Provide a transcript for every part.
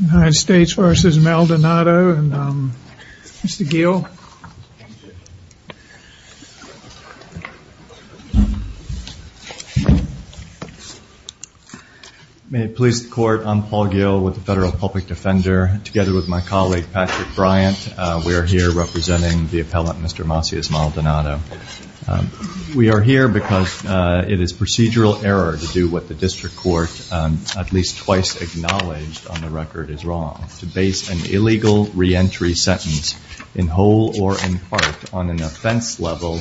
United States v. Maldonado and Mr. Gill. May it please the court, I'm Paul Gill with the Federal Public Defender. Together with my colleague Patrick Bryant, we are here representing the appellant Mr. Macias-Maldonado. We are here because it is procedural error to do what the record is wrong to base an illegal reentry sentence in whole or in part on an offense level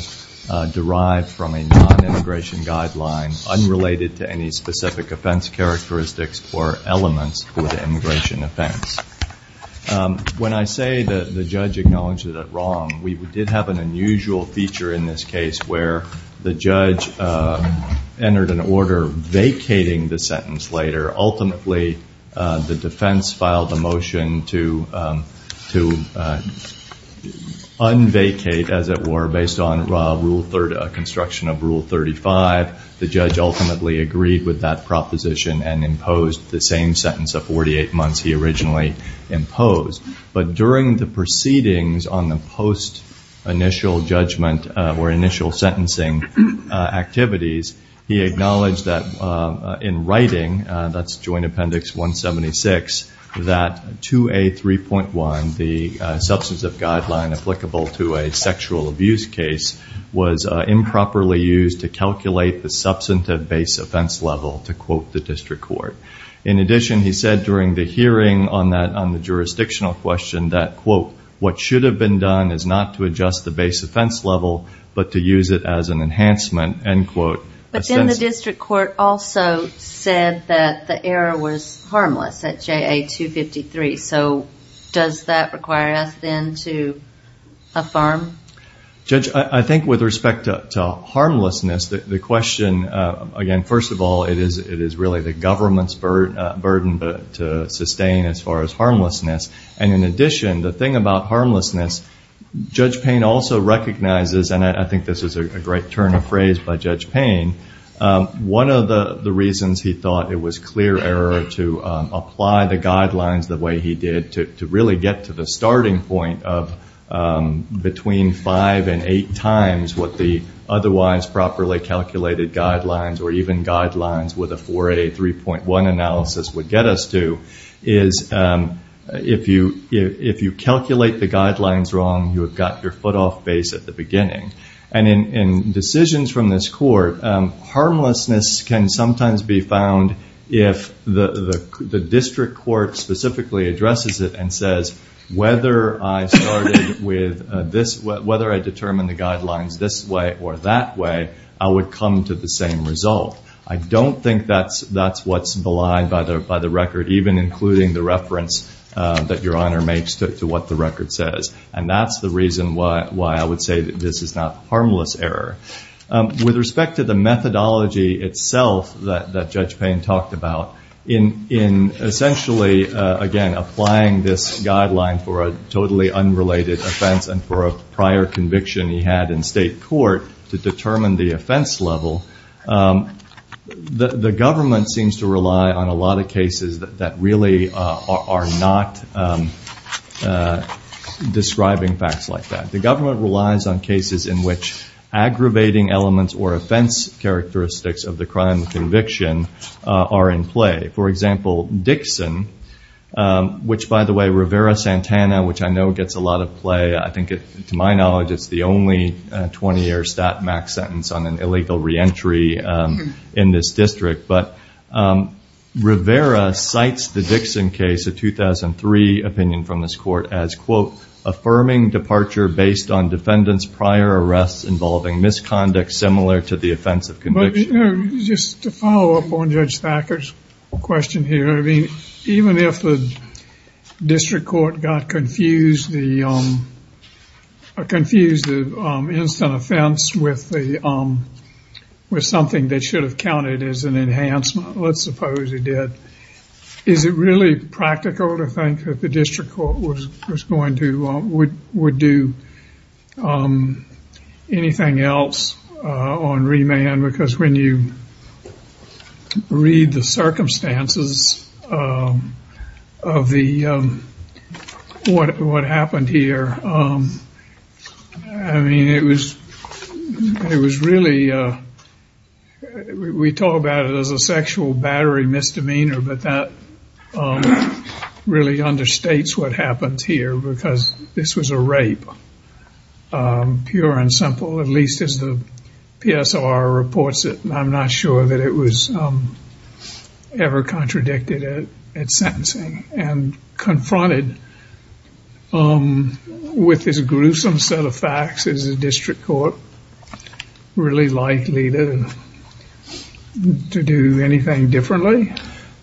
derived from a non-immigration guideline unrelated to any specific offense characteristics or elements for the immigration offense. When I say that the judge acknowledges it wrong, we did have an unusual feature in this case where the judge entered an order vacating the sentence later. Ultimately, the defense filed a motion to unvacate, as it were, based on construction of Rule 35. The judge ultimately agreed with that proposition and imposed the same sentence of 48 months he originally imposed. But during the proceedings on the post initial judgment or initial sentencing activities, he acknowledged that in writing, that's Joint Appendix 176, that 2A.3.1, the substance of guideline applicable to a sexual abuse case, was improperly used to calculate the substantive base offense level, to quote the district court. In addition, he said during the hearing on that on the jurisdictional question that quote, what should have been done is not to adjust the base offense level but to assess. But then the district court also said that the error was harmless at JA 253. So does that require us then to affirm? Judge, I think with respect to harmlessness, the question, again, first of all, it is really the government's burden to sustain as far as harmlessness. And in addition, the thing about harmlessness, Judge Payne also recognizes, and I think this is a great turn of phrase by Judge Payne, one of the reasons he thought it was clear error to apply the guidelines the way he did to really get to the starting point of between five and eight times what the otherwise properly calculated guidelines or even guidelines with a 4A.3.1 analysis would get us to, is if you calculate the guidelines wrong, you have got your foot off base at the beginning. And in decisions from this court, harmlessness can sometimes be found if the district court specifically addresses it and says whether I started with this, whether I determined the guidelines this way or that way, I would come to the same result. I don't think that is what is belied by the record, even including the reference that Your Honor makes to what the record says. And that is the reason why I would say that this is not harmless error. With respect to the methodology itself that Judge Payne talked about, in essentially, again, applying this guideline for a totally unrelated offense and for a prior conviction he had in state court to determine the offense level, the government seems to rely on a lot of cases that really are not describing facts like that. The government relies on cases in which aggravating elements or offense characteristics of the crime conviction are in play. For example, Dixon, which by the way, Rivera-Santana, which I know gets a lot of play. I think to my knowledge, it is the only 20-year stat max sentence on an illegal reentry in this district. But Rivera cites the Dixon case, a 2003 opinion from this court, as quote, affirming departure based on defendant's prior arrests involving misconduct similar to the offense of conviction. Just to follow up on Judge Thacker's question here, even if the district court got confused, confused the instant offense with something that should have counted as an enhancement, let's suppose it did, is it really practical to think that the district court would do anything else on remand? Because when you read the circumstances of what happened here, I mean, it was really, we talk about it as a sexual battery misdemeanor, but that really understates what happened here because this was a rape, pure and simple, at least as the PSR reports it. I'm not sure that it was ever contradicted at sentencing and confronted with this gruesome set of facts. Is the district court really likely to do anything differently?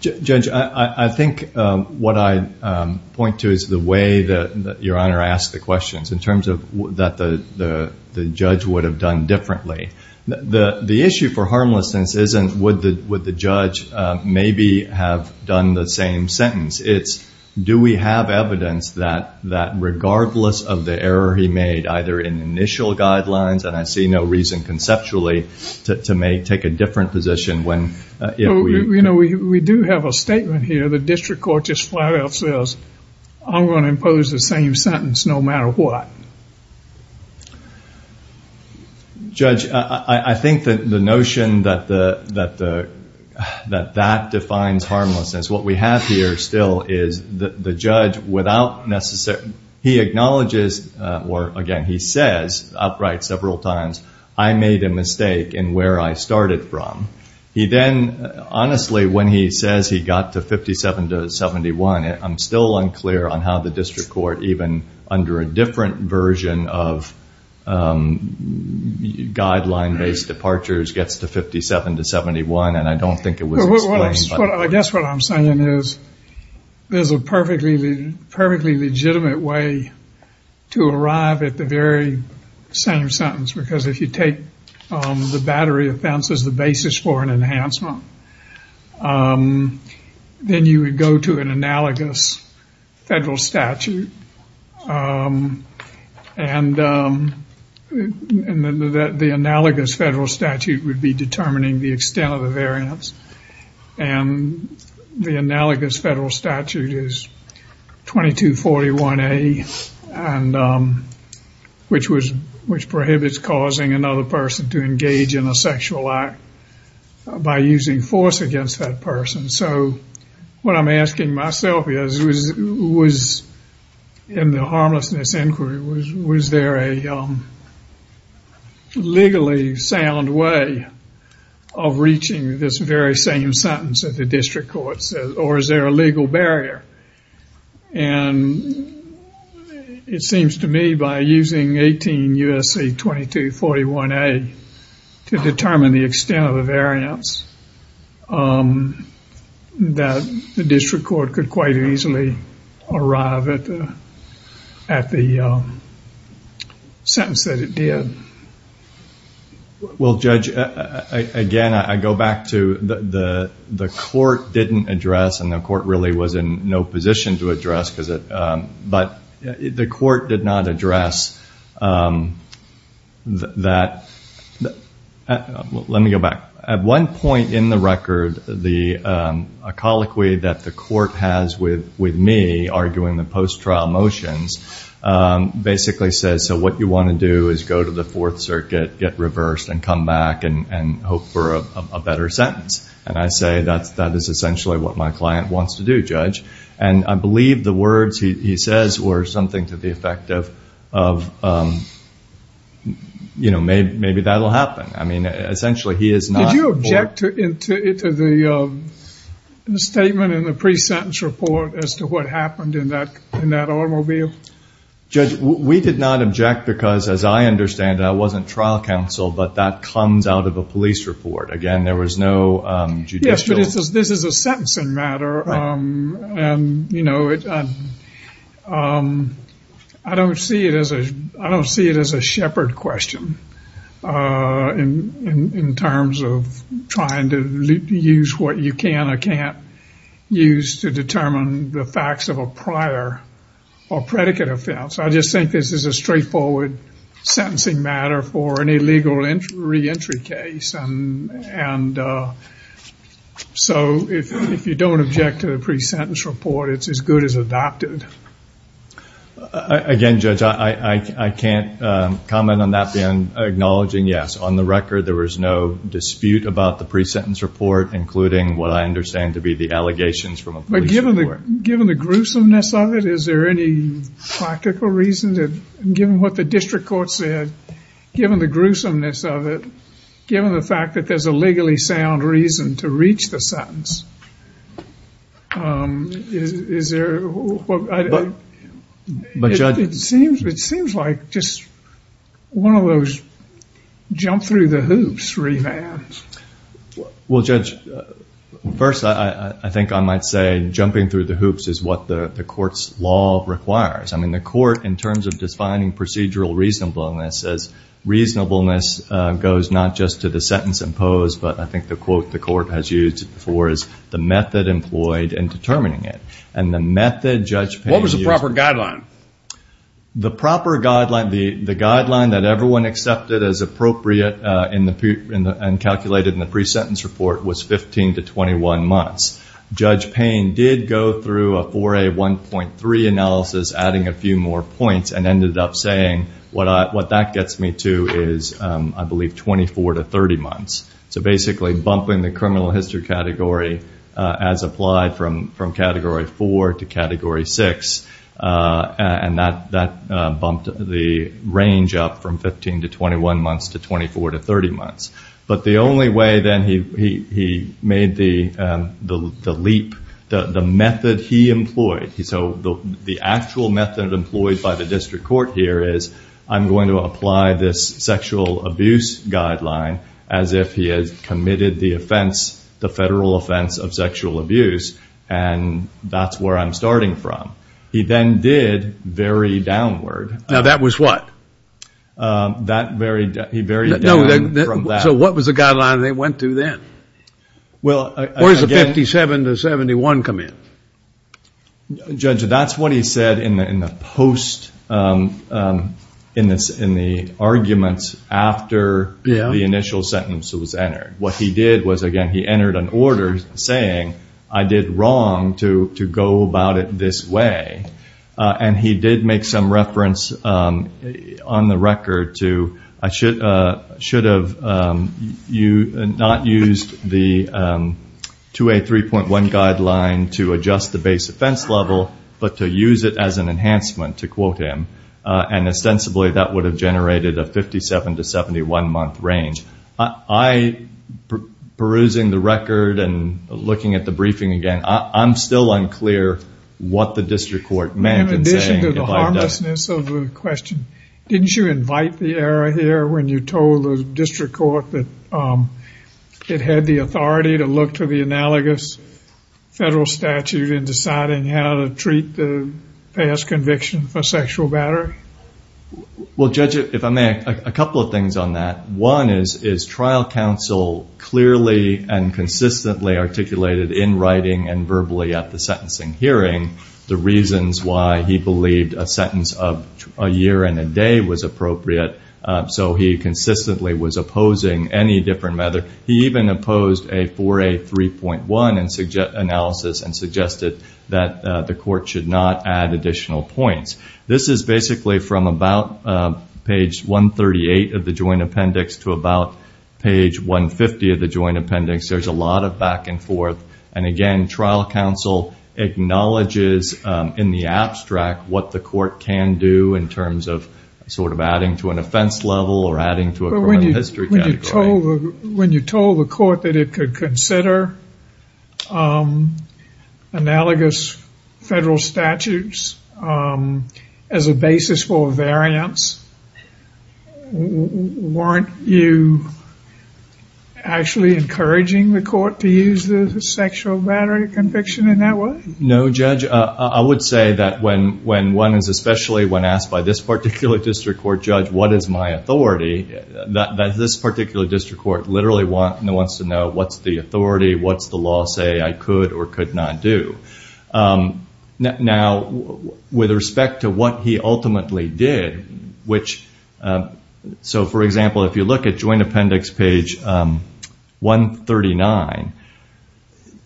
Judge, I think what I point to is the way that Your Honor asked the questions in terms of that the judge would have done differently. The issue for harmlessness isn't would the judge maybe have done the same sentence, it's do we have evidence that regardless of the error he made, either in initial guidelines, and I see no reason conceptually to take a different position when- We do have a statement here. The district court just flat out says, I'm going to impose the same sentence no matter what. Judge, I think that the notion that that defines harmlessness, what we have here still is the judge without necessarily, he acknowledges, or again, he says outright several times, I made a mistake in where I started from. He then, honestly, when he says he got to 57 to 71, I'm still unclear on how the district court even under a different version of guideline-based departures gets to 57 to 71, and I don't think it was explained. I guess what I'm saying is there's a perfectly legitimate way to arrive at the very same sentence, because if you take the battery offense as the basis for an enhancement, then you would go to an analogous federal statute, and then the analogous federal statute would be determining the extent of the harm, and the analogous federal statute is 2241A, which prohibits causing another person to engage in a sexual act by using force against that person. So, what I'm asking myself is, in the harmlessness inquiry, was there a legally sound way of reaching this very same sentence that the district court says, or is there a legal barrier? It seems to me by using 18 U.S.C. 2241A to determine the extent of the variance that the district court could quite easily arrive at the sentence that it did. Well, Judge, again, I go back to the court didn't address, and the court really was in no position to address, but the court did not address that... Let me go back. At one point in the record, a colloquy that the court has with me arguing the post-trial motions basically says, so what you want to do is go to the Fourth Circuit, get reversed, and come back and hope for a better sentence. And I say that is essentially what my client wants to do, Judge. And I believe the words he says were something to the effect of, you know, maybe that will happen. I mean, essentially, he is not... Did you object to the statement in the pre-sentence report as to what happened in that automobile? Judge, we did not object because, as I understand, that wasn't trial counsel, but that comes out of a police report. Again, there was no judicial... Yes, but this is a sentencing matter, and, you know, I don't see it as a shepherd question in terms of trying to use what you can or can't use to imply a predicate offense. I just think this is a straightforward sentencing matter for an illegal re-entry case, and so if you don't object to the pre-sentence report, it's as good as adopted. Again, Judge, I can't comment on that beyond acknowledging, yes, on the record, there was no dispute about the pre-sentence report, including what I understand to be the allegations from a police report. Given the gruesomeness of it, is there any practical reason that, given what the district court said, given the gruesomeness of it, given the fact that there's a legally sound reason to reach the sentence, is there... But, Judge... It seems like just one of those jump-through-the-hoops revams. Well, Judge, first, I think I might say jumping-through-the-hoops is what the court's law requires. I mean, the court, in terms of defining procedural reasonableness, says reasonableness goes not just to the sentence imposed, but I think the quote the court has used before is, the method employed in determining it. And the method, Judge Payne... What was the proper guideline? The proper guideline, the guideline that everyone accepted as appropriate in the... And calculated in the pre-sentence report was 15 to 21 months. Judge Payne did go through a 4A1.3 analysis, adding a few more points, and ended up saying, what that gets me to is, I believe, 24 to 30 months. So basically, bumping the criminal history category as applied from Category 4 to Category 6, and that bumped the range up from 15 to 21 months to 24 to 30 months. But the only way, then, he made the leap, the method he employed. So the actual method employed by the district court here is, I'm going to apply this sexual abuse guideline as if he has committed the offense, the federal offense of sexual abuse, and that's where I'm starting from. He then did vary downward. Now, that was what? That varied... He varied down from that. So what was the guideline they went to then? Well, again... Where does the 57 to 71 come in? Judge, that's what he said in the post... in the arguments after the initial sentence was entered. What he did was, again, he entered an order saying, I did wrong to go about it this way. He did make some reference on the record to, I should have not used the 2A3.1 guideline to adjust the base offense level, but to use it as an enhancement, to quote him, and ostensibly that would have generated a 57 to 71 month range. I, perusing the record and looking at the briefing again, I'm still unclear what the district court meant in saying... In addition to the harmlessness of the question, didn't you invite the error here when you told the district court that it had the authority to look to the analogous federal statute in deciding how to treat the past conviction for sexual battery? Well, Judge, if I may, a couple of things on that. One is, is trial counsel clearly and consistently articulated in writing and verbally at the sentencing hearing the reasons why he believed a sentence of a year and a day was appropriate, so he consistently was opposing any different... He even opposed a 4A3.1 analysis and suggested that the court should not add additional points. This is basically from about page 138 of the joint appendix to about page 150 of the joint appendix. There's a lot of back and forth, and again, trial counsel acknowledges in the abstract what the court can do in terms of adding to an offense level or adding to a criminal history category. When you told the court that it could consider analogous federal statutes as a basis for variance, weren't you actually encouraging the court to use the sexual battery conviction in that way? No, Judge. I would say that when one is especially when asked by this particular district court, Judge, what is my authority, that this particular district court literally wants to know what's the authority, what's the law say I could or could not do. Now, with respect to what he ultimately did, so for example, if you look at joint appendix page 139,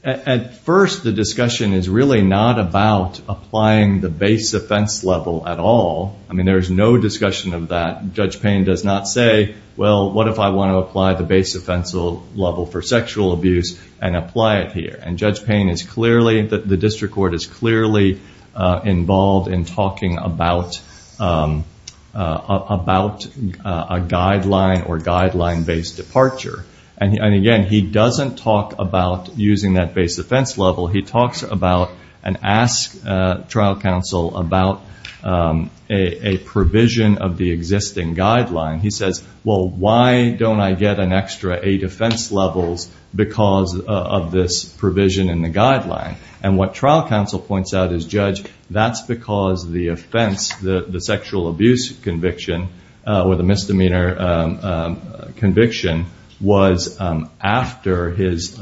at first the discussion is really not about applying the base offense level at all. There's no discussion of that. Judge Payne does not say, well, what if I want to apply the base offense level for sexual abuse and apply it here? Judge Payne is clearly, the district court is clearly involved in talking about a guideline or guideline-based departure. Again, he doesn't talk about using that base offense level. He talks about and asks trial counsel about a provision of the existing guideline. He says, well, why don't I get an extra eight offense levels because of this provision in the guideline? What trial counsel points out is, Judge, that's because the offense, the sexual abuse conviction or the misdemeanor conviction was after his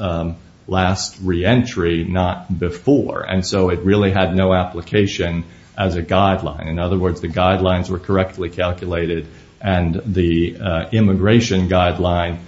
last re-entry, not before, and so it really had no application as a guideline. In other words, the guidelines were correctly calculated and the immigration guideline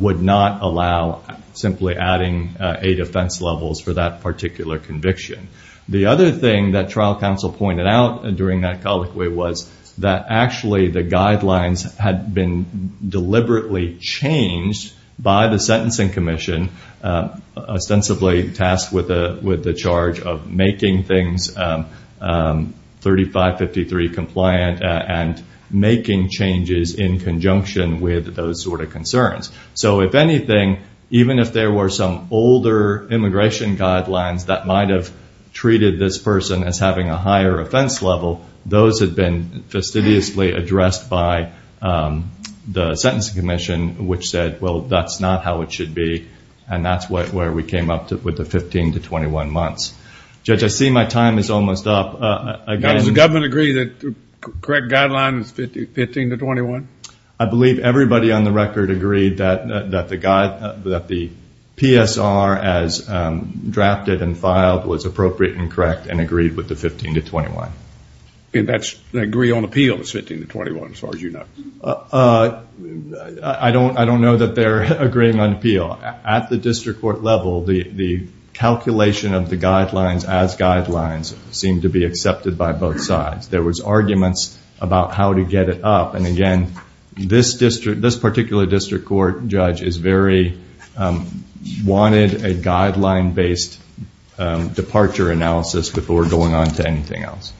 would not allow simply adding eight offense levels for that particular conviction. The other thing that trial counsel pointed out during that colloquy was that actually the guidelines had been deliberately changed by the sentencing commission, ostensibly tasked with the charge of making things 3553 compliant and making changes in conjunction with those sort of concerns. If anything, even if there were some older immigration guidelines that might have treated this person as having a higher offense level, those had been fastidiously addressed by the sentencing commission, which said, well, that's not how it should be, and that's where we came up with the 15 to 21 months. Judge, I see my time is almost up. Does the government agree that the correct guideline is 15 to 21? I believe everybody on the record agreed that the PSR as drafted and filed was appropriate and correct and agreed with the 15 to 21. That's agree on appeal is 15 to 21, as far as you know. I don't know that they're agreeing on appeal. At the district court level, the calculation of the guidelines as guidelines seemed to be accepted by both sides. There was arguments about how to get it up, and again, this particular district court judge wanted a guideline-based departure analysis before going on to anything else.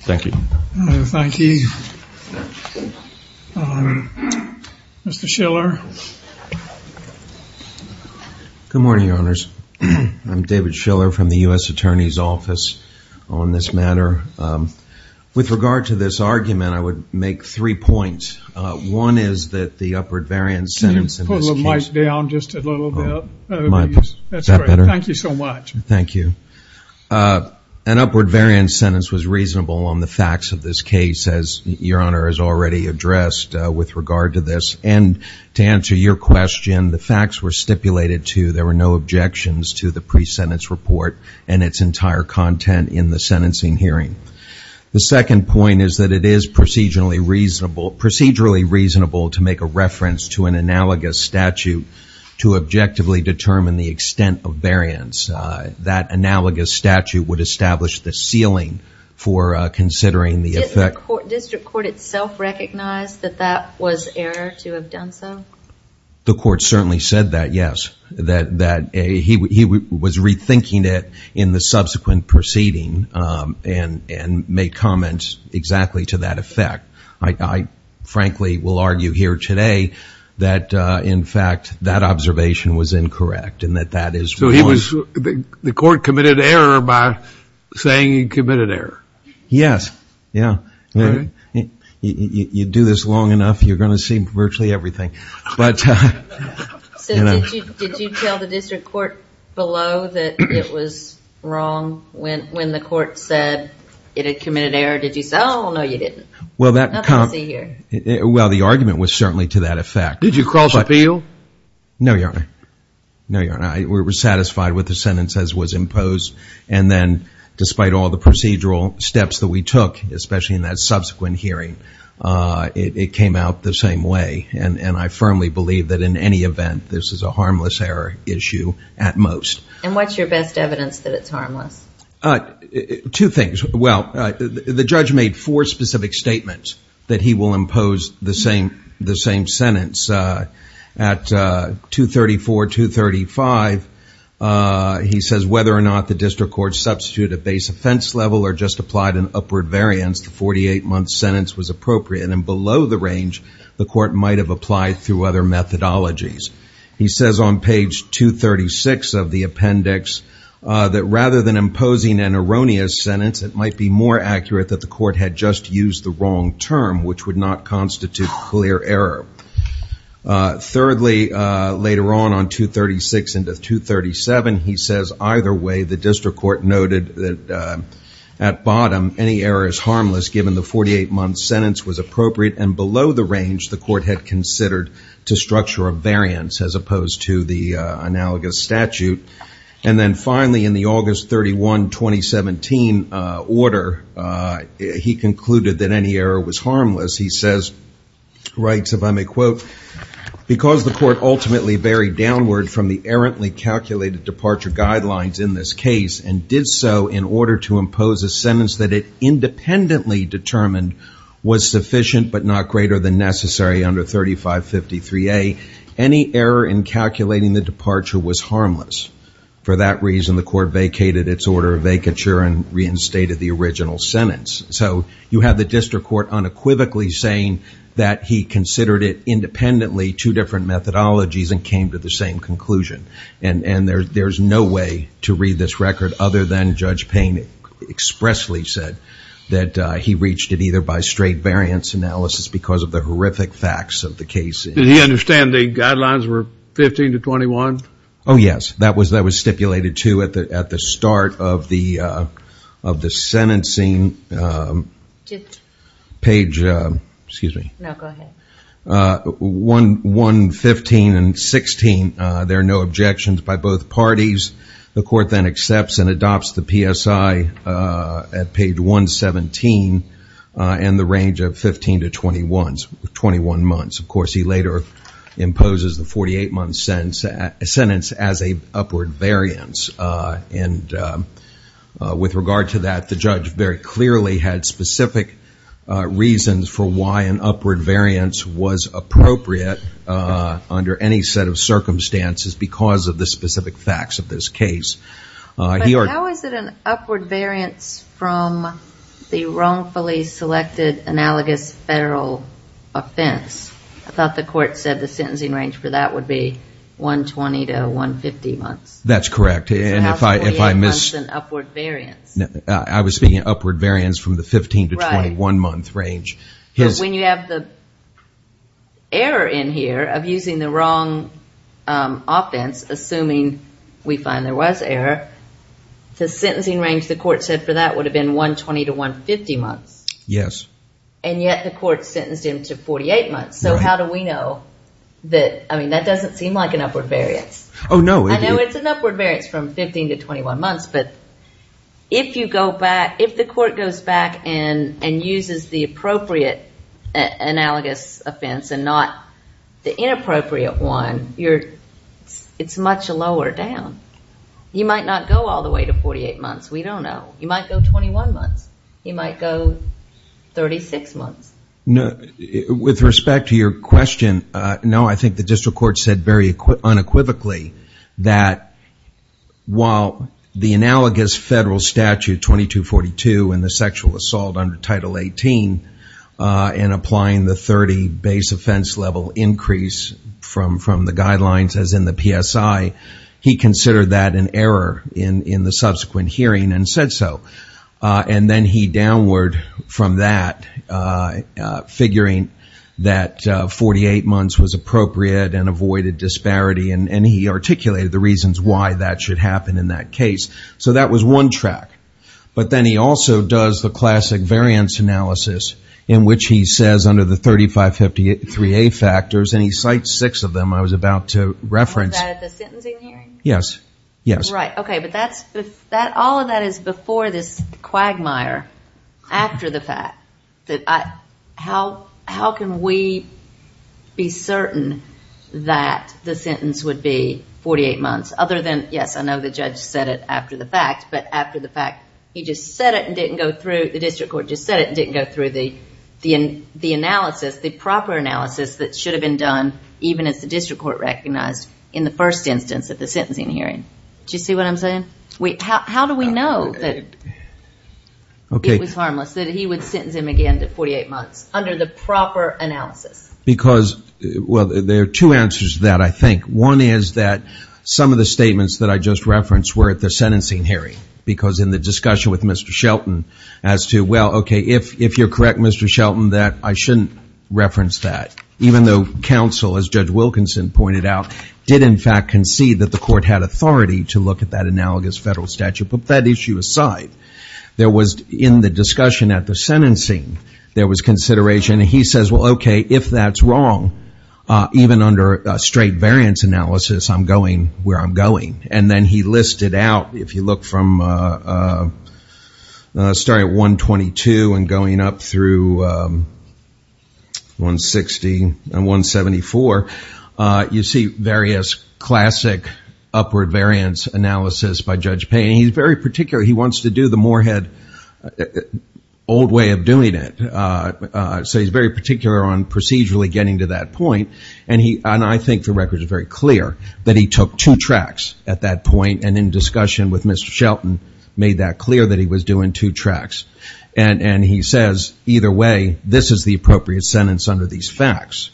Thank you. Thank you. Mr. Schiller. Good morning, Your Honors. I'm David Schiller from the U.S. Attorney's Office on this matter. With regard to this argument, I would make three points. One is that the upward variance sentence in this case... Can you put the mic down just a little bit, please? Is that better? That's great. Thank you so much. Thank you. An upward variance sentence was reasonable on the facts of this case, as Your Honor has already addressed with regard to this. And to answer your question, the facts were stipulated to, there were no objections to the pre-sentence report and its entire content in the sentencing hearing. The second point is that it is procedurally reasonable to make a reference to an analogous statute to objectively determine the extent of variance. That analogous statute would establish the ceiling for considering the effect... Didn't the district court itself recognize that that was error to have done so? The court certainly said that, yes. He was rethinking it in the subsequent proceeding and made comments exactly to that effect. I frankly will argue here today that, in fact, that observation was incorrect and that that is wrong. So the court committed error by saying he committed error? Yes. Yeah. Really? You do this long enough, you're going to see virtually everything. But... So did you tell the district court below that it was wrong when the court said it had committed error? Did you say, oh, no, you didn't? Well, that kind of... Nothing to see here. Well, the argument was certainly to that effect. Did you cross appeal? No, Your Honor. No, Your Honor. I was satisfied with the sentence as was imposed. And then, despite all the procedural steps that we took, especially in that subsequent hearing, it came out the same way. And I firmly believe that, in any event, this is a harmless error issue at most. And what's your best evidence that it's harmless? Two things. Well, the judge made four specific statements that he will impose the same sentence. At 234, 235, he says, whether or not the district court substituted base offense level or just applied an upward variance, the 48-month sentence was appropriate. And below the range, the court might have applied through other methodologies. He says on page 236 of the appendix that, rather than imposing an erroneous sentence, it might be more accurate that the court had just used the wrong term, which would not Thirdly, later on, on 236 into 237, he says, either way, the district court noted that, at bottom, any error is harmless, given the 48-month sentence was appropriate. And below the range, the court had considered to structure a variance, as opposed to the analogous statute. And then, finally, in the August 31, 2017 order, he concluded that any error was harmless. He says, writes, if I may quote, because the court ultimately varied downward from the errantly calculated departure guidelines in this case and did so in order to impose a sentence that it independently determined was sufficient but not greater than necessary under 3553A, any error in calculating the departure was harmless. For that reason, the court vacated its order of vacature and reinstated the original sentence. So you have the district court unequivocally saying that he considered it independently, two different methodologies, and came to the same conclusion. And there's no way to read this record other than Judge Payne expressly said that he reached it either by straight variance analysis because of the horrific facts of the case. Did he understand the guidelines were 15 to 21? Oh, yes. That was stipulated, too, at the start of the sentencing. Page, excuse me. No, go ahead. 115 and 16, there are no objections by both parties. The court then accepts and adopts the PSI at page 117 and the range of 15 to 21 months. Of course, he later imposes the 48-month sentence as an upward variance. And with regard to that, the judge very clearly had specific reasons for why an upward variance was appropriate under any set of circumstances because of the specific facts of this case. How is it an upward variance from the wrongfully selected analogous federal offense? I thought the court said the sentencing range for that would be 120 to 150 months. That's correct. I was speaking upward variance from the 15 to 21-month range. When you have the error in here of using the wrong offense, assuming we find there was error, the sentencing range the court said for that would have been 120 to 150 months. Yes. And yet the court sentenced him to 48 months. How do we know that? I mean, that doesn't seem like an upward variance. Oh, no. I know it's an upward variance from 15 to 21 months, but if you go back, if the court goes back and uses the appropriate analogous offense and not the inappropriate one, it's much lower down. You might not go all the way to 48 months. We don't know. You might go 21 months. You might go 36 months. No, with respect to your question, no, I think the district court said very unequivocally that while the analogous federal statute 2242 and the sexual assault under Title 18 and applying the 30 base offense level increase from the guidelines as in the PSI, he considered that an error in the subsequent hearing and said so. And then he downward from that, figuring that 48 months was appropriate and avoided disparity, and he articulated the reasons why that should happen in that case. So that was one track. But then he also does the classic variance analysis in which he says under the 3553A factors, and he cites six of them I was about to reference. Was that at the sentencing hearing? Yes, yes. But all of that is before this quagmire after the fact. How can we be certain that the sentence would be 48 months other than, yes, I know the judge said it after the fact, but after the fact he just said it and didn't go through, the district court just said it and didn't go through the analysis, the proper analysis that should have been done even as the district court recognized in the first instance of the sentencing hearing. Do you see what I'm saying? Wait, how do we know that it was harmless, that he would sentence him again to 48 months under the proper analysis? Because, well, there are two answers to that, I think. One is that some of the statements that I just referenced were at the sentencing hearing, because in the discussion with Mr. Shelton as to, well, okay, if you're correct, Mr. Shelton, that I shouldn't reference that, even though counsel, as Judge Wilkinson pointed out, did in fact concede that the court had authority to look at that analogous federal statute. But that issue aside, there was, in the discussion at the sentencing, there was consideration, and he says, well, okay, if that's wrong, even under a straight variance analysis, I'm going where I'm going. And then he listed out, if you look from, starting at 122 and going up through 160 and 174, you see various classic upward variance analysis by Judge Payne. He's very particular. He wants to do the Moorhead old way of doing it. So he's very particular on procedurally getting to that point. And I think the record is very clear that he took two tracks at that point, and in discussion with Mr. Shelton, made that clear that he was doing two tracks. And he says, either way, this is the appropriate sentence under these facts.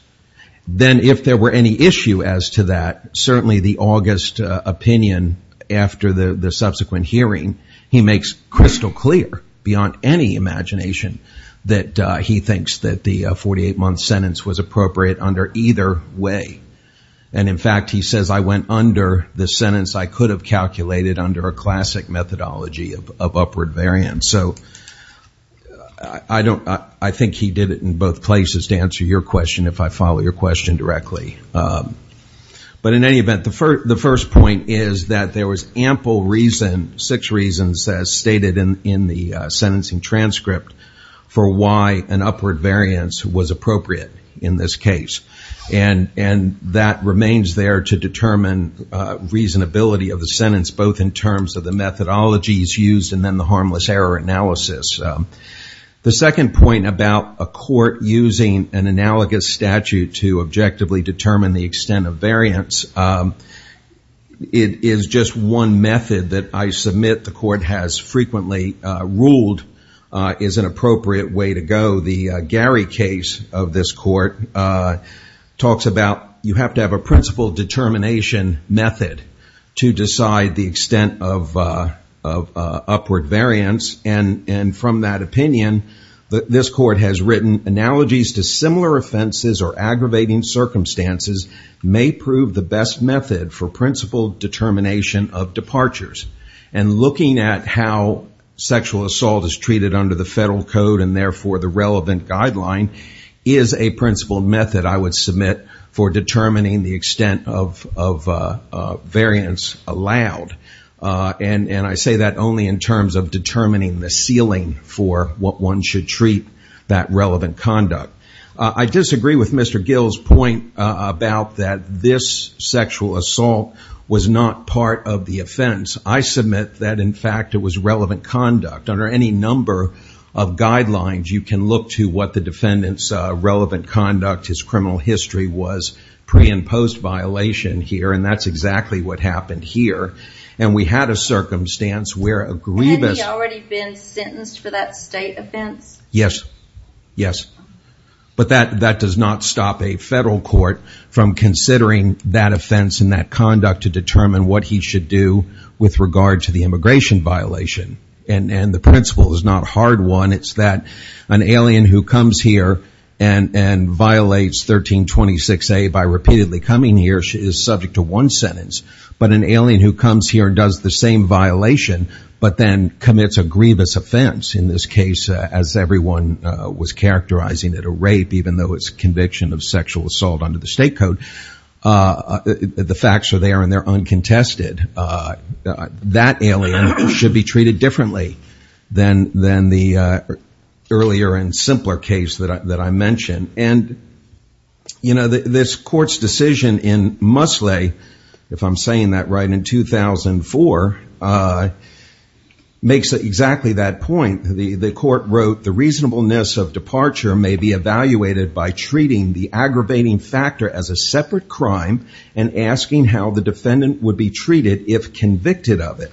Then if there were any issue as to that, certainly the August opinion, after the subsequent hearing, he makes crystal clear, beyond any imagination, that he thinks that the 48-month sentence was appropriate under either way. And in fact, he says, I went under the sentence I could have calculated under a classic methodology of upward variance. So I think he did it in both places. To answer your question, if I follow your question directly. But in any event, the first point is that there was ample reason, six reasons, as stated in the sentencing transcript, for why an upward variance was appropriate in this case. And that remains there to determine reasonability of the sentence, both in terms of the methodologies used and then the harmless error analysis. So the second point about a court using an analogous statute to objectively determine the extent of variance, it is just one method that I submit the court has frequently ruled is an appropriate way to go. The Gary case of this court talks about, you have to have a principle determination method to decide the extent of upward variance. And from that opinion, this court has written, analogies to similar offenses or aggravating circumstances may prove the best method for principle determination of departures. And looking at how sexual assault is treated under the federal code and therefore the relevant guideline, is a principle method I would submit for determining the extent of variance allowed. And I say that only in terms of determining the ceiling for what one should treat that relevant conduct. I disagree with Mr. Gill's point about that this sexual assault was not part of the offense. I submit that, in fact, it was relevant conduct. Under any number of guidelines, you can look to what the defendant's relevant conduct, his criminal history, was pre and post violation here. And that's exactly what happened here. And we had a circumstance where a grievous... Had he already been sentenced for that state offense? Yes. Yes. But that does not stop a federal court from considering that offense and that conduct to determine what he should do with regard to the immigration violation. And the principle is not a hard one. It's that an alien who comes here and violates 1326A by repeatedly coming here, is subject to one sentence. But an alien who comes here and does the same violation, but then commits a grievous offense, in this case, as everyone was characterizing it, a rape, even though it's a conviction of sexual assault under the state code, the facts are there and they're uncontested. That alien should be treated differently than the earlier and simpler case that I mentioned. And, you know, this court's decision in Musley, if I'm saying that right, in 2004, makes exactly that point. The court wrote, the reasonableness of departure may be evaluated by treating the aggravating factor as a separate crime and asking how the defendant would be treated if convicted of it.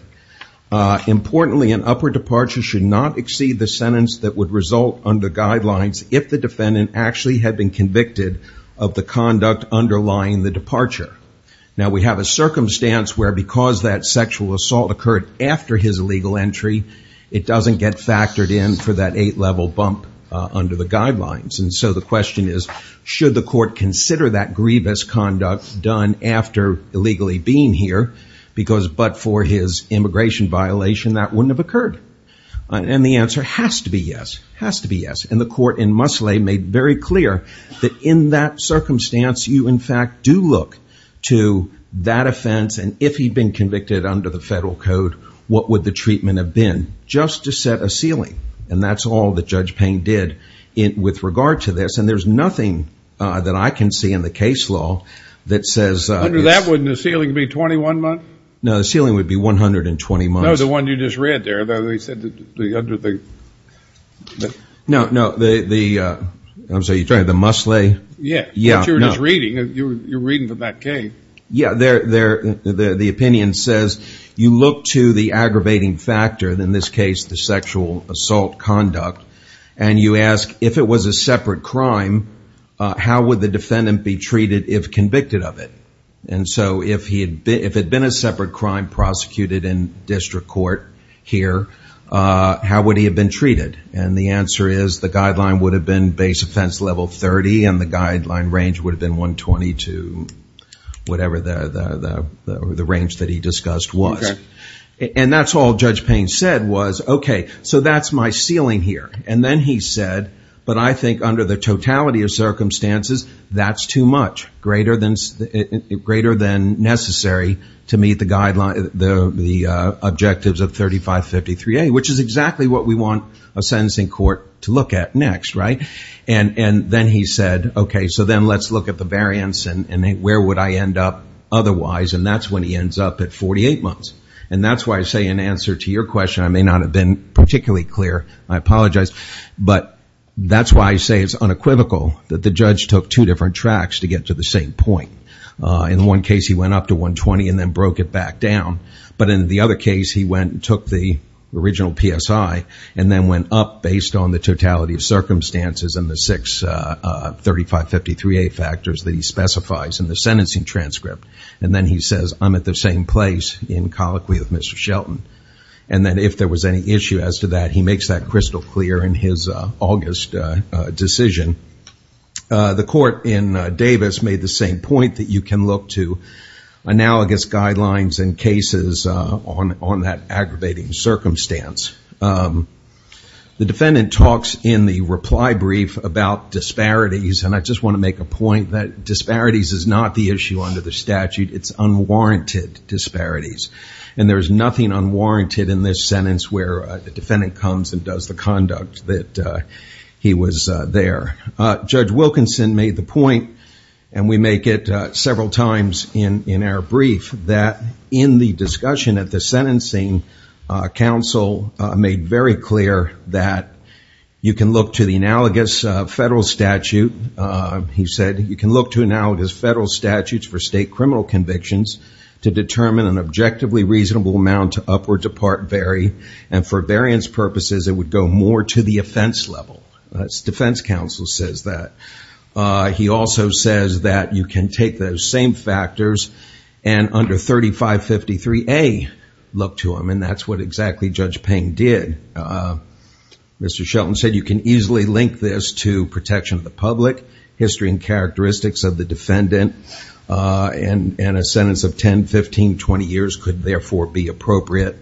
Importantly, an upper departure should not exceed the sentence that would result under guidelines if the defendant actually had been convicted of the conduct underlying the departure. Now, we have a circumstance where because that sexual assault occurred after his illegal entry, it doesn't get factored in for that eight-level bump under the guidelines. And so the question is, should the court consider that grievous conduct done after illegally being here, but for his immigration violation that wouldn't have occurred? And the answer has to be yes, has to be yes. And the court in Musley made very clear that in that circumstance, you, in fact, do look to that offense. And if he'd been convicted under the federal code, what would the treatment have been? Just to set a ceiling. And that's all that Judge Payne did with regard to this. And there's nothing that I can see in the case law that says- Under that, wouldn't the ceiling be 21 months? No, the ceiling would be 120 months. No, the one you just read there, that they said that the under the- No, no, the, I'm sorry, you're talking about the Musley? Yeah, what you're just reading, you're reading from that case. Yeah, the opinion says, you look to the aggravating factor, in this case, the sexual assault conduct, and you ask, if it was a separate crime, how would the defendant be treated if convicted of it? And so if it had been a separate crime prosecuted in district court here, how would he have been treated? And the answer is, the guideline would have been base offense level 30 and the guideline range would have been 120 to whatever the range that he discussed was. And that's all Judge Payne said was, okay, so that's my ceiling here. And then he said, but I think under the totality of circumstances, that's too much, greater than necessary to meet the guidelines, the objectives of 3553A, which is exactly what we want a sentencing court to look at next, right? And then he said, okay, so then let's look at the variance and where would I end up otherwise? And that's when he ends up at 48 months. And that's why I say in answer to your question, I may not have been particularly clear, I apologize, but that's why I say it's unequivocal that the judge took two different tracks to get to the same point. In one case, he went up to 120 and then broke it back down. he went and took the original PSI and then went up based on the totality of circumstances and the six 3553A factors that he specifies in the sentencing transcript. And then he says, I'm at the same place in colloquy with Mr. Shelton. And then if there was any issue as to that, he makes that crystal clear in his August decision. The court in Davis made the same point that you can look to analogous guidelines and cases on that aggravating circumstance. The defendant talks in the reply brief about disparities. And I just want to make a point that disparities is not the issue under the statute. It's unwarranted disparities. And there's nothing unwarranted in this sentence where the defendant comes and does the conduct that he was there. Judge Wilkinson made the point, and we make it several times in our brief that in the discussion at the sentencing council, made very clear that you can look to the analogous federal statute. He said, you can look to analogous federal statutes for state criminal convictions to determine an objectively reasonable amount to upward to part vary. And for variance purposes, it would go more to the offense level. That's defense counsel says that. He also says that you can take those same factors and under 3553A look to them. That's what exactly Judge Payne did. Mr. Shelton said, you can easily link this to protection of the public, history and characteristics of the defendant. And a sentence of 10, 15, 20 years could therefore be appropriate.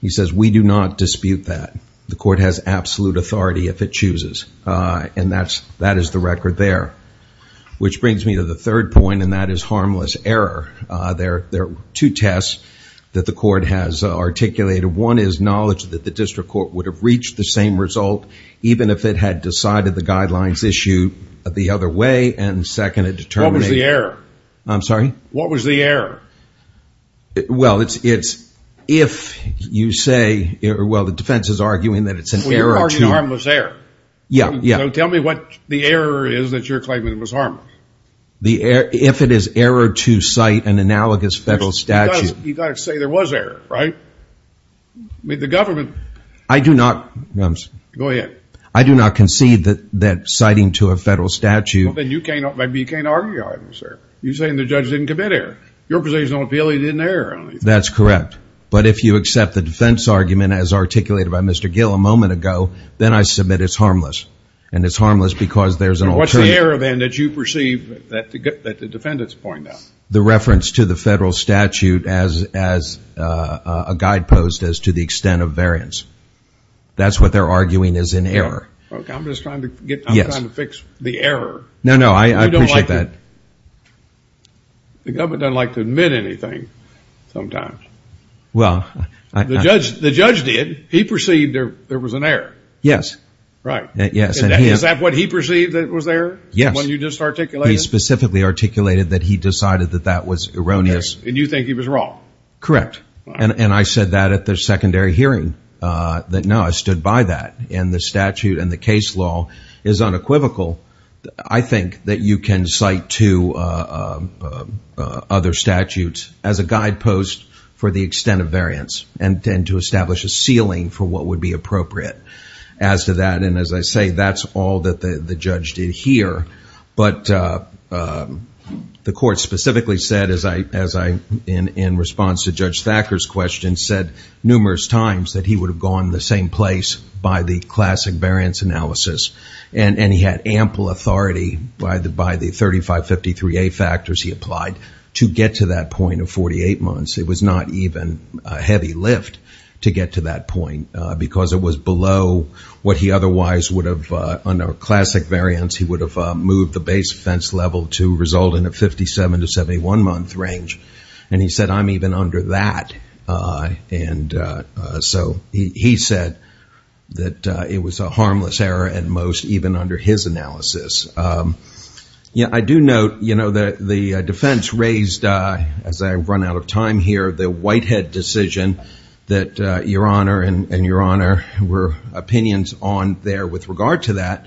He says, we do not dispute that. The court has absolute authority if it chooses. And that is the record there. Which brings me to the third point, and that is harmless error. There are two tests that the court has articulated. One is knowledge that the district court would have reached the same result, even if it had decided the guidelines issue the other way. And second, it determined... What was the error? I'm sorry? What was the error? Well, it's if you say, well, the defense is arguing that it's an error to... You're arguing harmless error. So tell me what the error is that you're claiming it was harmless. The error... If it is error to cite an analogous federal statute... You gotta say there was error, right? I mean, the government... I do not... Go ahead. I do not concede that citing to a federal statute... Well, then you can't argue it was error. You're saying the judge didn't commit error. Your position on appeal, he didn't err. That's correct. But if you accept the defense argument as articulated by Mr. Gill a moment ago, then I submit it's harmless. And it's harmless because there's an alternative... What's the error then that you perceive that the defendants point out? The reference to the federal statute as a guidepost as to the extent of variance. That's what they're arguing is an error. Okay, I'm just trying to get... I'm trying to fix the error. No, no, I appreciate that. The government doesn't like to admit anything sometimes. Well, I... The judge did. He perceived there was an error. Yes. Right. Yes. Is that what he perceived that was there? Yes. What you just articulated? He specifically articulated that he decided that that was erroneous. And you think he was wrong? Correct. And I said that at the secondary hearing, that no, I stood by that. And the statute and the case law is unequivocal. I think that you can cite to other statutes as a guidepost for the extent of variance and to establish a ceiling for what would be appropriate. As to that, and as I say, that's all that the judge did here. But the court specifically said, as I, in response to Judge Thacker's question, said numerous times that he would have gone the same place by the classic variance analysis. And he had ample authority by the 3553A factors he applied to get to that point of 48 months. It was not even a heavy lift to get to that point because it was below what he otherwise would have, under classic variance, he would have moved the base offense level to result in a 57 to 71 month range. And he said, I'm even under that. And so he said that it was a harmless error and most even under his analysis. Yeah, I do note that the defense raised, as I've run out of time here, the Whitehead decision that Your Honor and Your Honor were opinions on there with regard to that.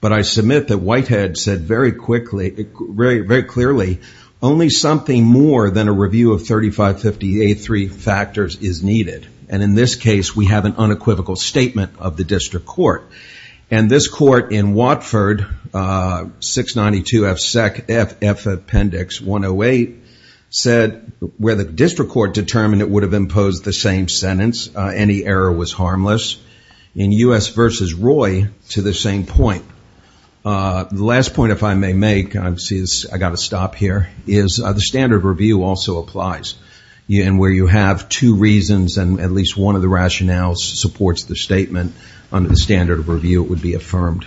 But I submit that Whitehead said very quickly, very clearly, only something more than a review of 3558A3 factors is needed. And in this case, we have an unequivocal statement of the district court. And this court in Watford, 692 F Appendix 108, said where the district court determined it would have imposed the same sentence, any error was harmless. In U.S. versus Roy, to the same point. The last point, if I may make, I've got to stop here, is the standard review also applies. And where you have two reasons and at least one of the rationales supports the statement under the standard of review, it would be affirmed.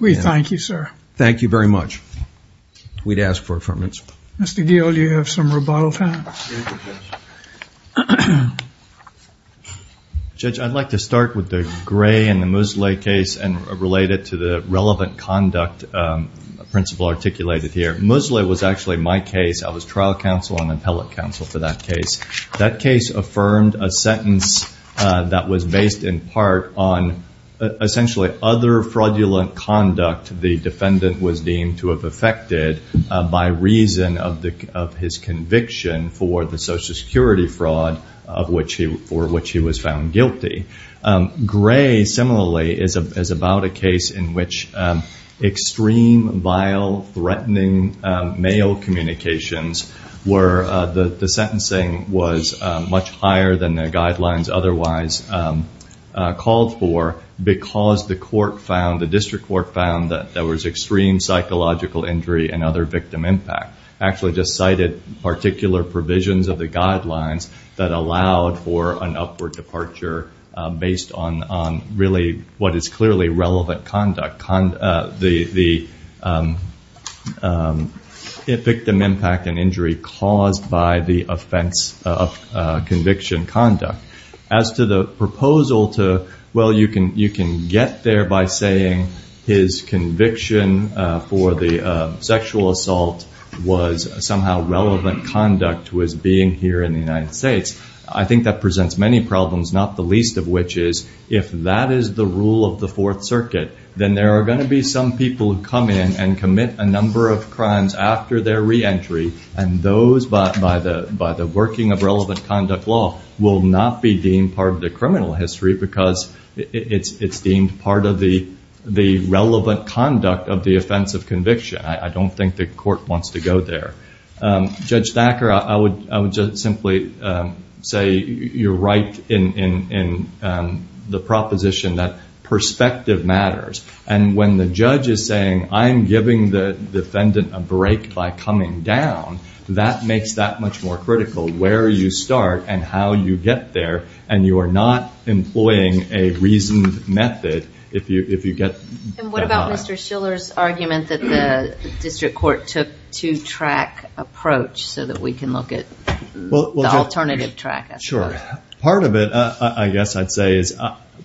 We thank you, sir. Thank you very much. We'd ask for affirmance. Mr. Deal, you have some rebuttal time. Judge, I'd like to start with the Gray and the Moseley case and relate it to the relevant conduct principle articulated here. Moseley was actually my case. I was trial counsel and appellate counsel for that case. That case affirmed a sentence that was based in part on essentially other fraudulent conduct the defendant was deemed to have affected by reason of his conviction for the social security fraud of which he, for which he was found guilty. Gray, similarly, is about a case in which extreme, vile, threatening male communications where the sentencing was much higher than the guidelines otherwise called for because the court found, the district court found that there was extreme psychological injury and other victim impact. Actually just cited particular provisions of the guidelines that allowed for an upward departure based on really what is clearly relevant conduct. The victim impact and injury caused by the offense of conviction conduct. As to the proposal to, well, you can get there by saying his conviction for the sexual assault was somehow relevant conduct to his being here in the United States. I think that presents many problems, not the least of which is if that is the rule of the Fourth Circuit, then there are gonna be some people who come in and commit a number of crimes after their reentry and those by the working of relevant conduct law will not be deemed part of the criminal history because it's deemed part of the relevant conduct of the offense of conviction. I don't think the court wants to go there. Judge Thacker, I would just simply say you're right in the proposition that perspective matters and when the judge is saying I'm giving the defendant a break by coming down, that makes that much more critical, where you start and how you get there and you are not employing a reasoned method if you get there. And what about Mr. Schiller's argument that the district court took two track approach so that we can look at the alternative track? Sure, part of it I guess I'd say is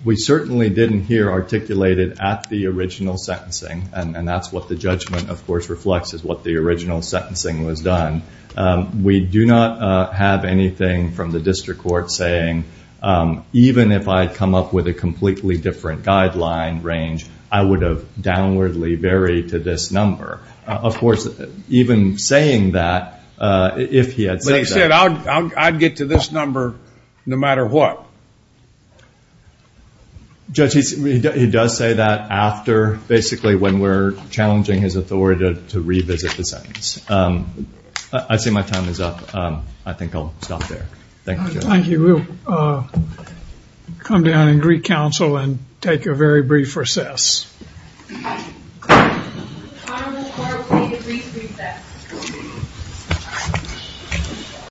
we certainly didn't hear articulated at the original sentencing and that's what the judgment of course reflects is what the original sentencing was done. We do not have anything from the district court saying even if I come up with a completely different guideline range I would have downwardly varied to this number. Of course, even saying that, if he had said that... But he said I'd get to this number no matter what. Judge, he does say that after basically when we're challenging his authority to revisit the sentence. I see my time is up. I think I'll stop there. Thank you, Judge. Thank you. We'll come down and recounsel and take a very brief recess.